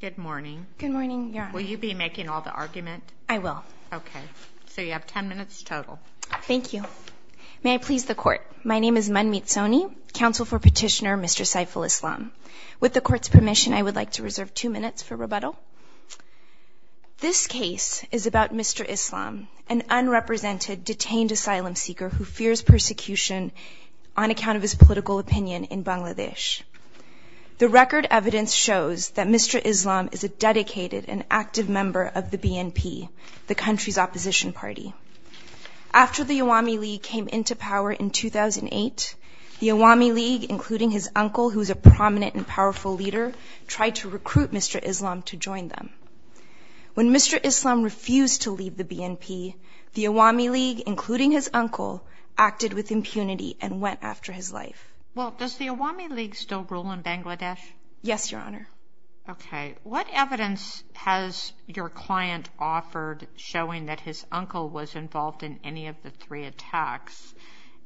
Good morning. Good morning, Your Honor. Will you be making all the argument? I will. Okay. So you have ten minutes total. Thank you. May I please the Court? My name is Manmeet Soni, counsel for petitioner Mr. Saiful Islam. With the Court's permission, I would like to reserve two minutes for rebuttal. This case is about Mr. Islam, an unrepresented, detained asylum seeker who fears persecution on account of his political opinion in Bangladesh. The record evidence shows that Mr. Islam is a dedicated and active member of the BNP, the country's opposition party. After the Awami League came into power in 2008, the Awami League, including his uncle, who is a prominent and powerful leader, tried to recruit Mr. Islam to join them. When Mr. Islam refused to leave the BNP, the Awami League, including his uncle, acted with impunity and went after his life. Well, does the Awami League still rule in Bangladesh? Yes, Your Honor. Okay. What evidence has your client offered showing that his uncle was involved in any of the three attacks?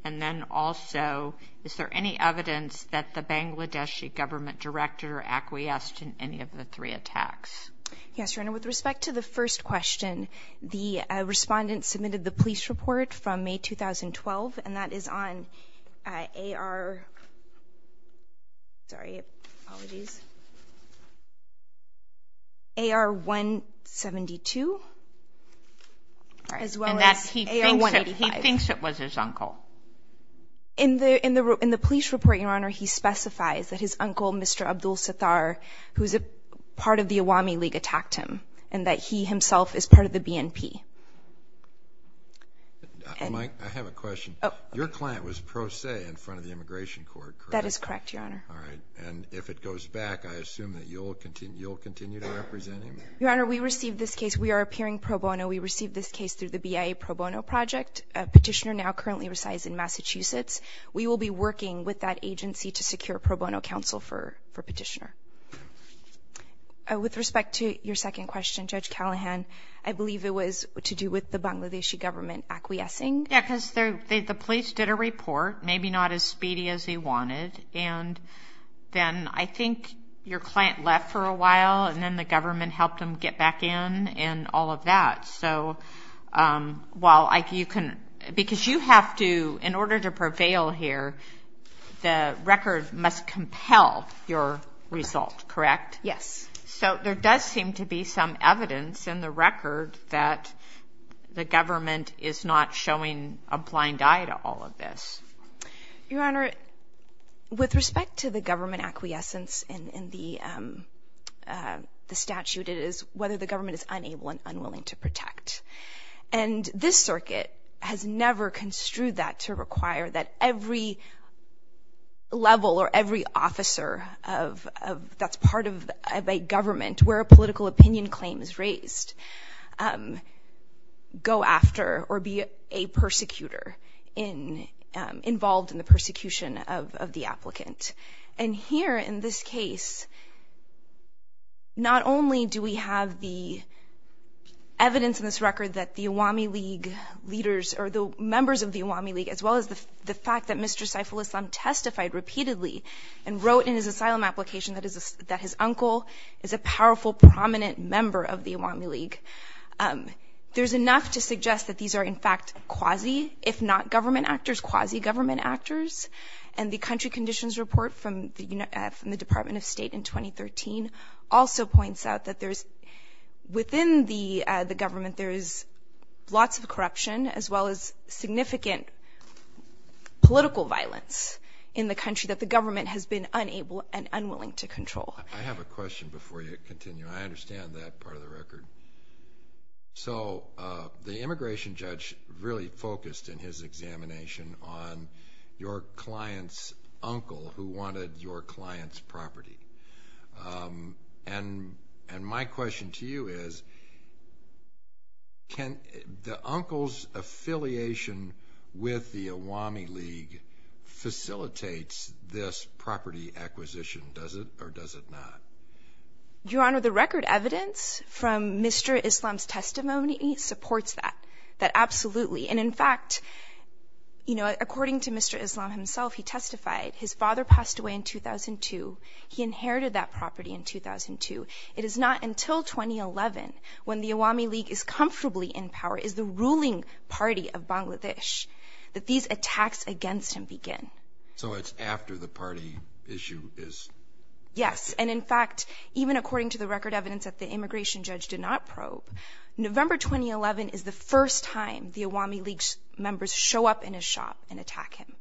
And then also, is there any evidence that the Bangladeshi government directed or acquiesced in any of the three attacks? Yes, Your Honor. With respect to the first question, the respondent submitted the police report from May 2012, and that is on AR 172, as well as AR 185. He thinks it was his uncle. In the police report, Your Honor, he specifies that his uncle, Mr. Abdul Sattar, who is part of the Awami League, attacked him, and that he himself is part of the BNP. Mike, I have a question. Your client was pro se in front of the Immigration Court, correct? That is correct, Your Honor. All right. And if it goes back, I assume that you'll continue to represent him? Your Honor, we received this case. We are appearing pro bono. We received this case through the BIA Pro Bono Project. Petitioner now currently resides in Massachusetts. We will be working with that agency to secure pro bono counsel for Petitioner. With respect to your second question, Judge Callahan, I believe it was to do with the Bangladeshi government acquiescing. Yes, because the police did a report, maybe not as speedy as they wanted, and then I think your client left for a while, and then the government helped him get back in and all of that. Because you have to, in order to prevail here, the record must compel your result, correct? Yes. So there does seem to be some evidence in the record that the government is not showing a blind eye to all of this. Your Honor, with respect to the government acquiescence in the statute, it is whether the government is unable and unwilling to protect. And this circuit has never construed that to require that every level or every officer that's part of a government where a political opinion claim is raised go after or be a persecutor involved in the persecution of the applicant. And here in this case, not only do we have the evidence in this record that the Awami League leaders, or the members of the Awami League, as well as the fact that Mr. Saiful Islam testified repeatedly and wrote in his asylum application that his uncle is a powerful, prominent member of the Awami League, there's enough to suggest that these are in fact quasi, if not government actors, quasi-government actors. And the country conditions report from the Department of State in 2013 also points out that within the government there is lots of corruption as well as significant political violence in the country that the government has been unable and unwilling to control. I have a question before you continue. I understand that part of the record. So the immigration judge really focused in his examination on your client's uncle who wanted your client's property. And my question to you is, can the uncle's affiliation with the Awami League facilitate this property acquisition? Does it or does it not? Your Honor, the record evidence from Mr. Islam's testimony supports that. That absolutely. And in fact, according to Mr. Islam himself, he testified his father passed away in 2002. He inherited that property in 2002. It is not until 2011 when the Awami League is comfortably in power, is the ruling party of Bangladesh, that these attacks against him begin. So it's after the party issue is... Yes, and in fact, even according to the record evidence that the immigration judge did not probe, November 2011 is the first time the Awami League members show up in his shop and attack him.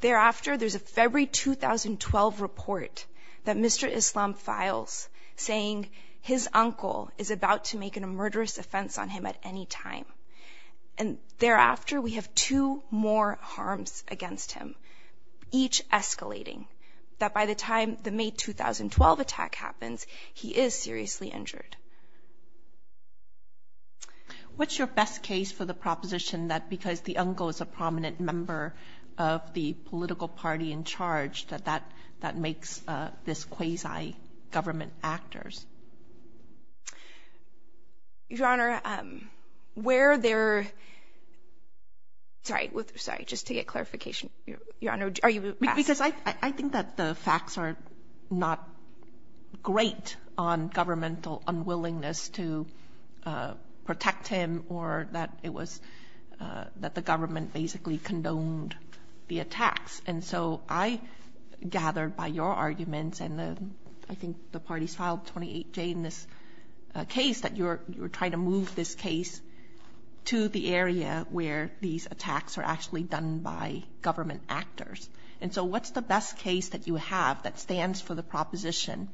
Thereafter, there's a February 2012 report that Mr. Islam files saying his uncle is about to make a murderous offense on him at any time. And thereafter, we have two more harms against him, each escalating, that by the time the May 2012 attack happens, he is seriously injured. What's your best case for the proposition that because the uncle is a prominent member of the political party in charge, that that makes this quasi-government actors? Your Honor, where there... Sorry, just to get clarification, Your Honor, are you... Because I think that the facts are not great on governmental unwillingness to protect him or that it was that the government basically condoned the attacks. And so I gather by your arguments, and I think the parties filed 28J in this case, that you're trying to move this case to the area where these attacks are actually done by government actors. And so what's the best case that you have that stands for the proposition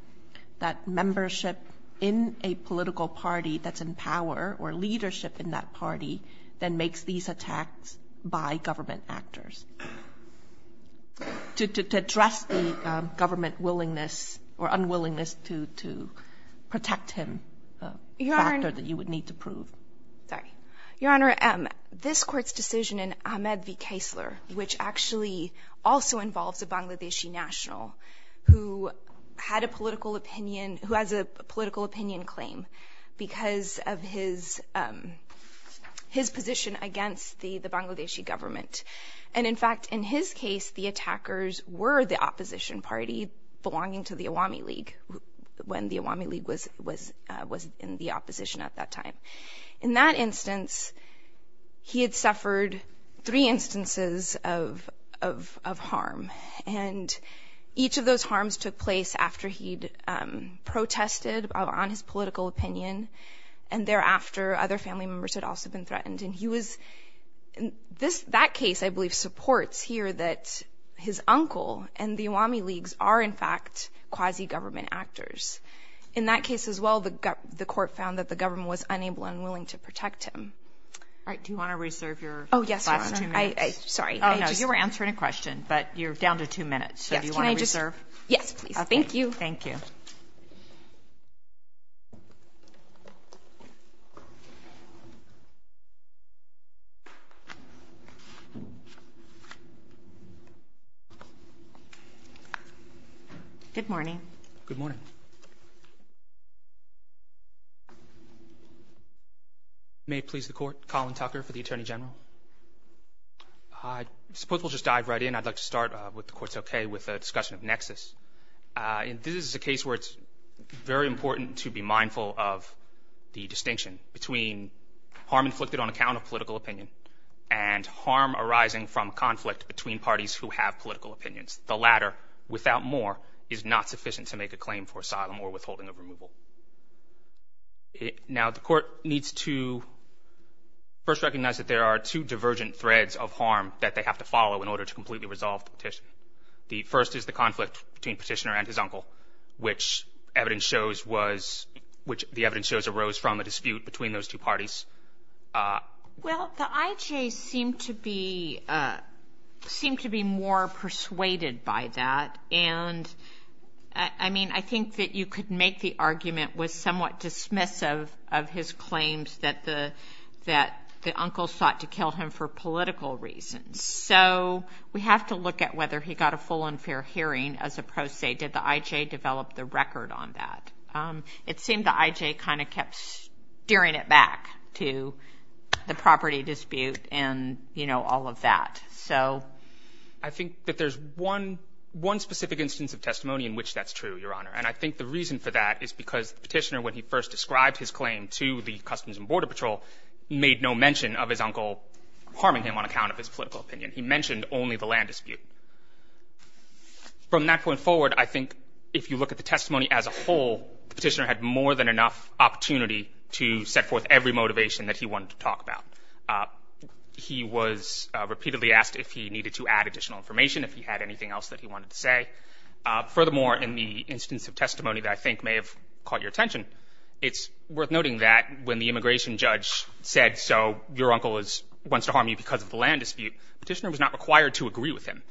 that membership in a political party that's in power or leadership in that party that makes these attacks by government actors to address the government willingness or unwillingness to protect him, a factor that you would need to prove? Sorry. Your Honor, this court's decision in Ahmed v. Kessler, which actually also involves a Bangladeshi national who has a political opinion claim because of his position against the Bangladeshi government. And in fact, in his case, the attackers were the opposition party belonging to the Awami League when the Awami League was in the opposition at that time. In that instance, he had suffered three instances of harm, and each of those harms took place after he'd protested on his political opinion, and thereafter other family members had also been threatened. And he was in that case, I believe, supports here that his uncle and the Awami Leagues are in fact quasi-government actors. In that case as well, the court found that the government was unable and unwilling to protect him. All right. Do you want to reserve your last two minutes? Oh, yes, Your Honor. Sorry. Oh, no. You were answering a question, but you're down to two minutes. So do you want to reserve? Yes, please. Thank you. Thank you. Good morning. Good morning. May it please the Court. Colin Tucker for the Attorney General. I suppose we'll just dive right in. I'd like to start, if the Court's okay, with a discussion of nexus. This is a case where it's very important to be mindful of the distinction between harm inflicted on account of political opinion and harm arising from conflict between parties who have political opinions. The latter, without more, is not sufficient to make a claim for asylum or withholding of removal. Now, the Court needs to first recognize that there are two divergent threads of harm that they have to follow in order to completely resolve the petition. The first is the conflict between Petitioner and his uncle, which the evidence shows arose from a dispute between those two parties. Well, the I.J. seemed to be more persuaded by that, and I think that you could make the argument with somewhat dismissive of his claims that the uncle sought to kill him for political reasons. So we have to look at whether he got a full and fair hearing as opposed to, did the I.J. develop the record on that. It seemed the I.J. kind of kept steering it back to the property dispute and, you know, all of that. So I think that there's one specific instance of testimony in which that's true, Your Honor, and I think the reason for that is because Petitioner, when he first described his claim to the Customs and Border Patrol, made no mention of his uncle harming him on account of his political opinion. He mentioned only the land dispute. From that point forward, I think if you look at the testimony as a whole, Petitioner had more than enough opportunity to set forth every motivation that he wanted to talk about. He was repeatedly asked if he needed to add additional information, if he had anything else that he wanted to say. Furthermore, in the instance of testimony that I think may have caught your attention, it's worth noting that when the immigration judge said, so your uncle wants to harm you because of the land dispute, Petitioner was not required to agree with him.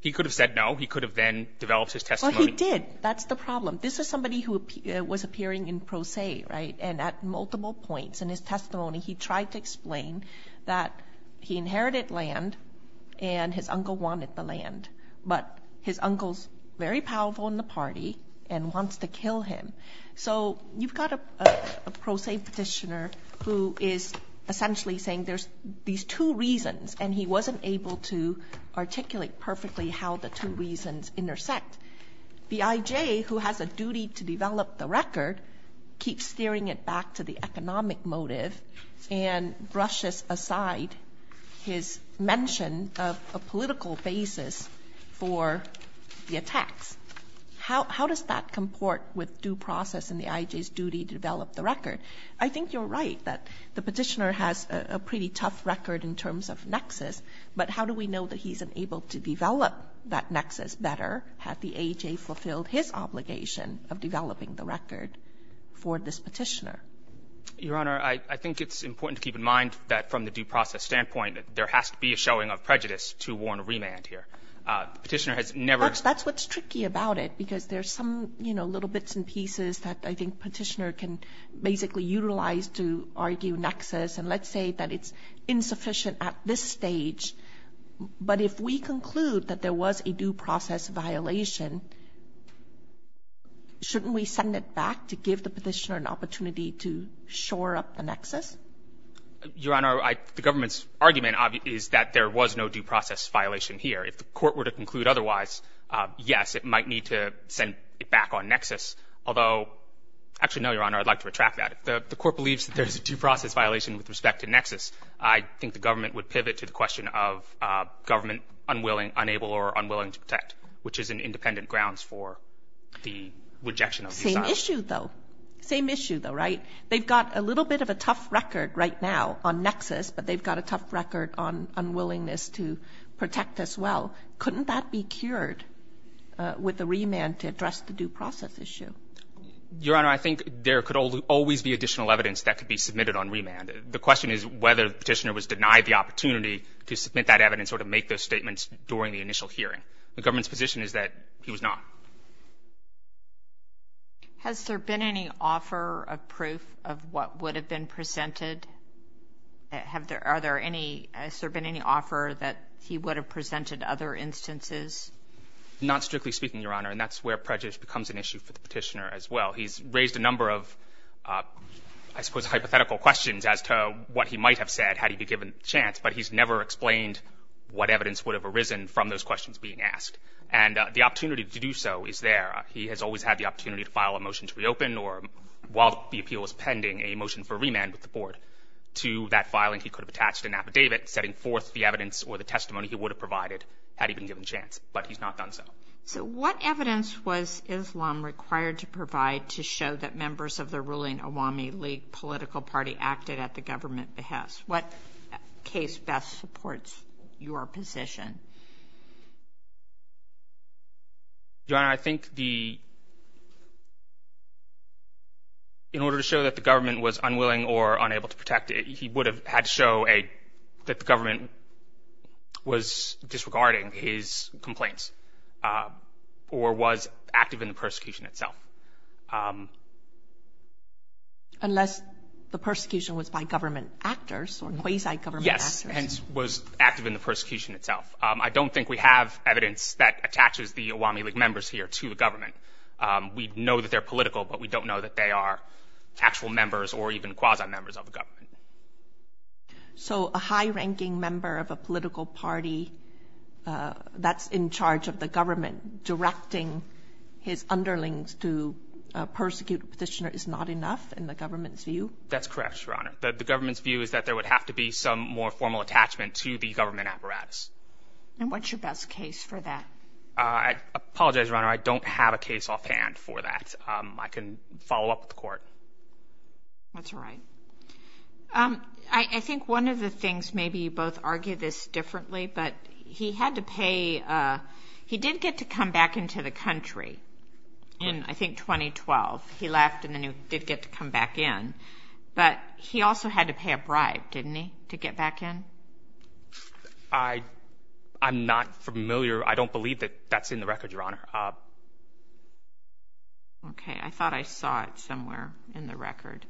He could have said no. He could have then developed his testimony. Well, he did. That's the problem. This is somebody who was appearing in pro se, right, and at multiple points in his testimony, he tried to explain that he inherited land and his uncle wanted the land, but his uncle's very powerful in the party and wants to kill him. So you've got a pro se Petitioner who is essentially saying there's these two reasons and he wasn't able to articulate perfectly how the two reasons intersect. The IJ, who has a duty to develop the record, keeps steering it back to the economic motive and brushes aside his mention of a political basis for the attacks. How does that comport with due process and the IJ's duty to develop the record? I think you're right that the Petitioner has a pretty tough record in terms of nexus, but how do we know that he's able to develop that nexus better had the IJ fulfilled his obligation of developing the record for this Petitioner? Your Honor, I think it's important to keep in mind that from the due process standpoint, there has to be a showing of prejudice to warn remand here. Petitioner has never ---- That's what's tricky about it because there's some, you know, bits and pieces that I think Petitioner can basically utilize to argue nexus and let's say that it's insufficient at this stage, but if we conclude that there was a due process violation, shouldn't we send it back to give the Petitioner an opportunity to shore up the nexus? Your Honor, the government's argument is that there was no due process violation here. If the court were to conclude otherwise, yes, it might need to send it back on nexus, although actually, no, Your Honor, I'd like to retract that. If the court believes that there's a due process violation with respect to nexus, I think the government would pivot to the question of government unwilling, unable, or unwilling to protect, which is an independent grounds for the rejection of the assignment. Same issue, though. Same issue, though, right? They've got a little bit of a tough record right now on nexus, but they've got a tough record on unwillingness to protect as well. Couldn't that be cured with the remand to address the due process issue? Your Honor, I think there could always be additional evidence that could be submitted on remand. The question is whether the Petitioner was denied the opportunity to submit that evidence or to make those statements during the initial hearing. The government's position is that he was not. Has there been any offer of proof of what would have been presented? Are there any ñ has there been any offer that he would have presented other instances? Not strictly speaking, Your Honor, and that's where prejudice becomes an issue for the Petitioner as well. He's raised a number of, I suppose, hypothetical questions as to what he might have said had he been given the chance, but he's never explained what evidence would have arisen from those questions being asked. And the opportunity to do so is there. He has always had the opportunity to file a motion to reopen or, while the appeal was pending, a motion for remand with the Board. To that filing, he could have attached an affidavit setting forth the evidence or the testimony he would have provided had he been given the chance, but he's not done so. So what evidence was Islam required to provide to show that members of the ruling Awami League political party acted at the government behest? What case best supports your position? Your Honor, I think the ñ in order to show that the government was unwilling or unable to protect it, he would have had to show that the government was disregarding his complaints or was active in the persecution itself. Unless the persecution was by government actors or quasi-government actors. Yes, and was active in the persecution itself. I don't think we have evidence that attaches the Awami League members here to the government. We know that they're political, but we don't know that they are actual members or even quasi-members of the government. So a high-ranking member of a political party that's in charge of the government and directing his underlings to persecute a petitioner is not enough in the government's view? That's correct, Your Honor. The government's view is that there would have to be some more formal attachment to the government apparatus. And what's your best case for that? I apologize, Your Honor, I don't have a case offhand for that. I can follow up with the court. That's all right. I think one of the things, maybe you both argue this differently, but he did get to come back into the country in, I think, 2012. He left and then he did get to come back in. But he also had to pay a bribe, didn't he, to get back in? I'm not familiar. I don't believe that that's in the record, Your Honor. Okay, I thought I saw it somewhere in the record.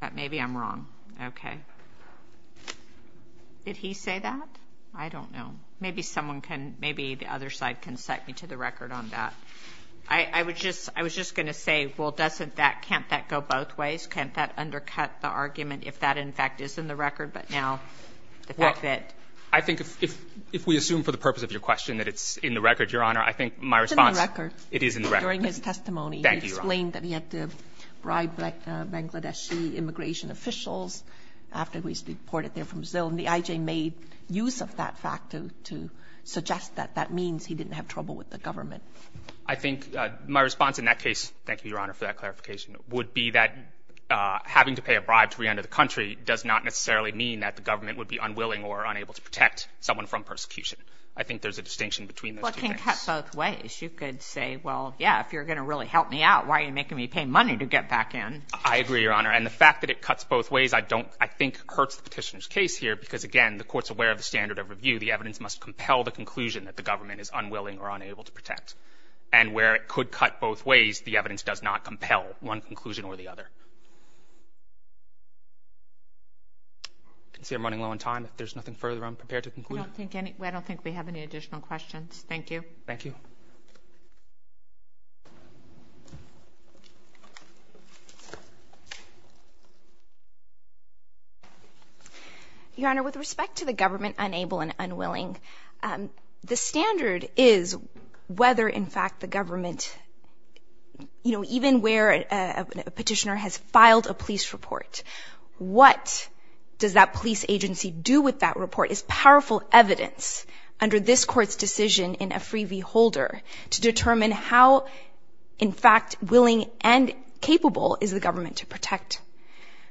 But maybe I'm wrong. Okay. Did he say that? I don't know. Maybe someone can, maybe the other side can cite me to the record on that. I was just going to say, well, can't that go both ways? Can't that undercut the argument if that, in fact, is in the record? But now the fact that ---- Well, I think if we assume for the purpose of your question that it's in the record, Your Honor, I think my response ---- It's in the record. It is in the record. During his testimony, he explained that he had to bribe Bangladeshi immigration officials after he was deported there from Brazil, and the IJ made use of that fact to suggest that that means he didn't have trouble with the government. I think my response in that case, thank you, Your Honor, for that clarification, would be that having to pay a bribe to re-enter the country does not necessarily mean that the government would be unwilling or unable to protect someone from persecution. I think there's a distinction between those two things. Well, it can cut both ways. You could say, well, yeah, if you're going to really help me out, why are you making me pay money to get back in? I agree, Your Honor. And the fact that it cuts both ways I don't ---- I think hurts the petitioner's case here because, again, the court's aware of the standard of review. The evidence must compel the conclusion that the government is unwilling or unable to protect. And where it could cut both ways, the evidence does not compel one conclusion or the other. I can see I'm running low on time. If there's nothing further, I'm prepared to conclude. I don't think we have any additional questions. Thank you. Thank you. Your Honor, with respect to the government unable and unwilling, the standard is whether, in fact, the government, you know, even where a petitioner has filed a police report, what does that police agency do with that report is powerful evidence under this court's decision to determine how, in fact, willing and capable is the government to protect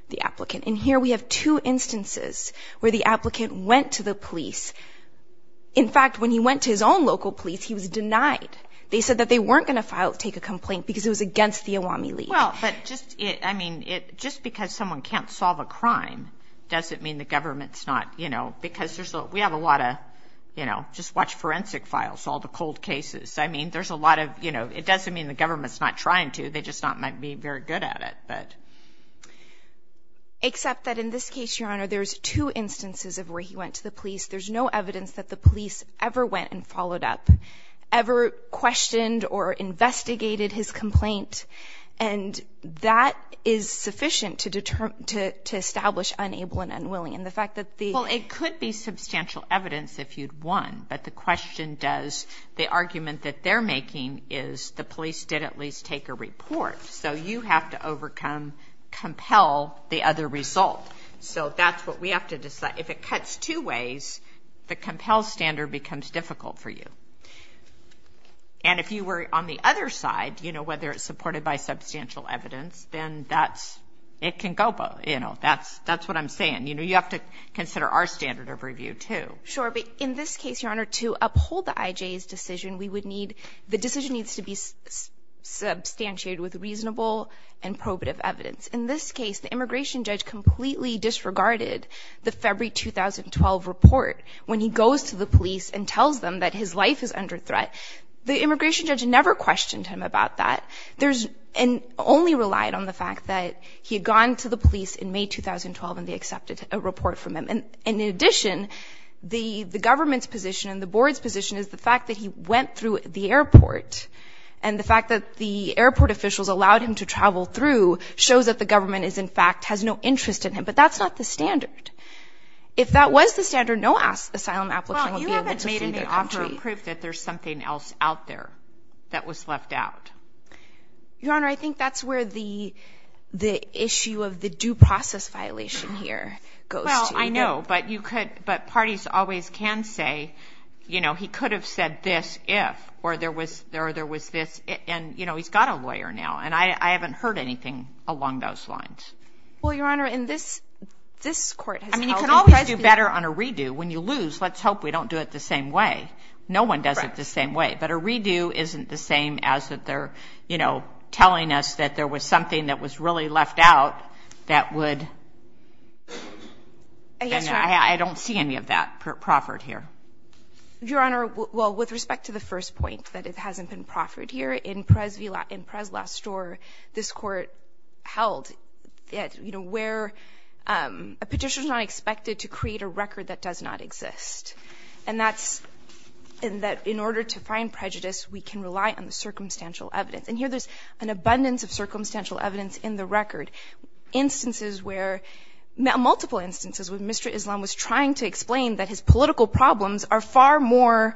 the applicant. And here we have two instances where the applicant went to the police. In fact, when he went to his own local police, he was denied. They said that they weren't going to take a complaint because it was against the AWAMI League. Well, but just, I mean, just because someone can't solve a crime doesn't mean the government's not, you know, because we have a lot of, you know, just watch forensic files, all the cold cases. I mean, there's a lot of, you know, it doesn't mean the government's not trying to. They just might not be very good at it. Except that in this case, Your Honor, there's two instances of where he went to the police. There's no evidence that the police ever went and followed up, ever questioned or investigated his complaint, and that is sufficient to establish unable and unwilling. And the fact that the... Well, it could be substantial evidence if you'd won, but the question does, the argument that they're making is the police did at least take a report. So you have to overcome, compel the other result. So that's what we have to decide. If it cuts two ways, the compel standard becomes difficult for you. And if you were on the other side, you know, whether it's supported by substantial evidence, then that's, it can go, you know, that's what I'm saying. You know, you have to consider our standard of review too. Sure, but in this case, Your Honor, to uphold the IJ's decision, we would need, the decision needs to be substantiated with reasonable and probative evidence. In this case, the immigration judge completely disregarded the February 2012 report when he goes to the police and tells them that his life is under threat. The immigration judge never questioned him about that. There's, and only relied on the fact that he had gone to the police in May 2012 and they accepted a report from him. And in addition, the government's position and the board's position is the fact that he went through the airport and the fact that the airport officials allowed him to travel through shows that the government is, in fact, has no interest in him. But that's not the standard. If that was the standard, no asylum applicant would be able to see their country. But that doesn't prove that there's something else out there that was left out. Your Honor, I think that's where the issue of the due process violation here goes to. Well, I know, but you could, but parties always can say, you know, he could have said this if, or there was this, and, you know, he's got a lawyer now. And I haven't heard anything along those lines. Well, Your Honor, and this court has held the president. Let's do better on a redo. When you lose, let's hope we don't do it the same way. No one does it the same way. But a redo isn't the same as that they're, you know, telling us that there was something that was really left out that would. And I don't see any of that proffered here. Your Honor, well, with respect to the first point, that it hasn't been proffered here, in Prez Lastor, this court held, you know, where a petition is not expected to create a record that does not exist. And that's in order to find prejudice, we can rely on the circumstantial evidence. And here there's an abundance of circumstantial evidence in the record. Instances where, multiple instances, where Mr. Islam was trying to explain that his political problems are far more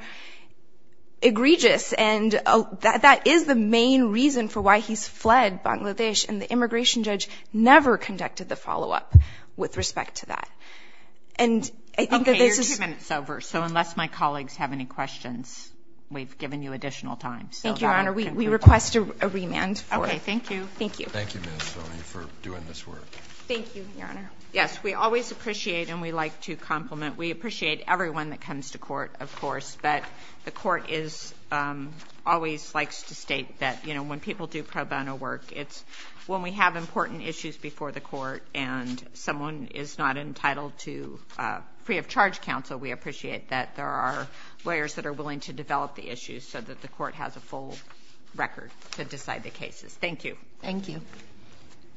egregious. And that is the main reason for why he's fled Bangladesh. And the immigration judge never conducted the follow-up with respect to that. And I think that this is. Okay. You're two minutes over. So unless my colleagues have any questions, we've given you additional time. Thank you, Your Honor. We request a remand for it. Okay. Thank you. Thank you. Thank you, Ms. Sonia, for doing this work. Thank you, Your Honor. Yes, we always appreciate and we like to compliment. We appreciate everyone that comes to court, of course. But the court always likes to state that when people do pro bono work, it's when we have important issues before the court and someone is not entitled to free of charge counsel, we appreciate that there are lawyers that are willing to develop the issues so that the court has a full record to decide the cases. Thank you. Thank you.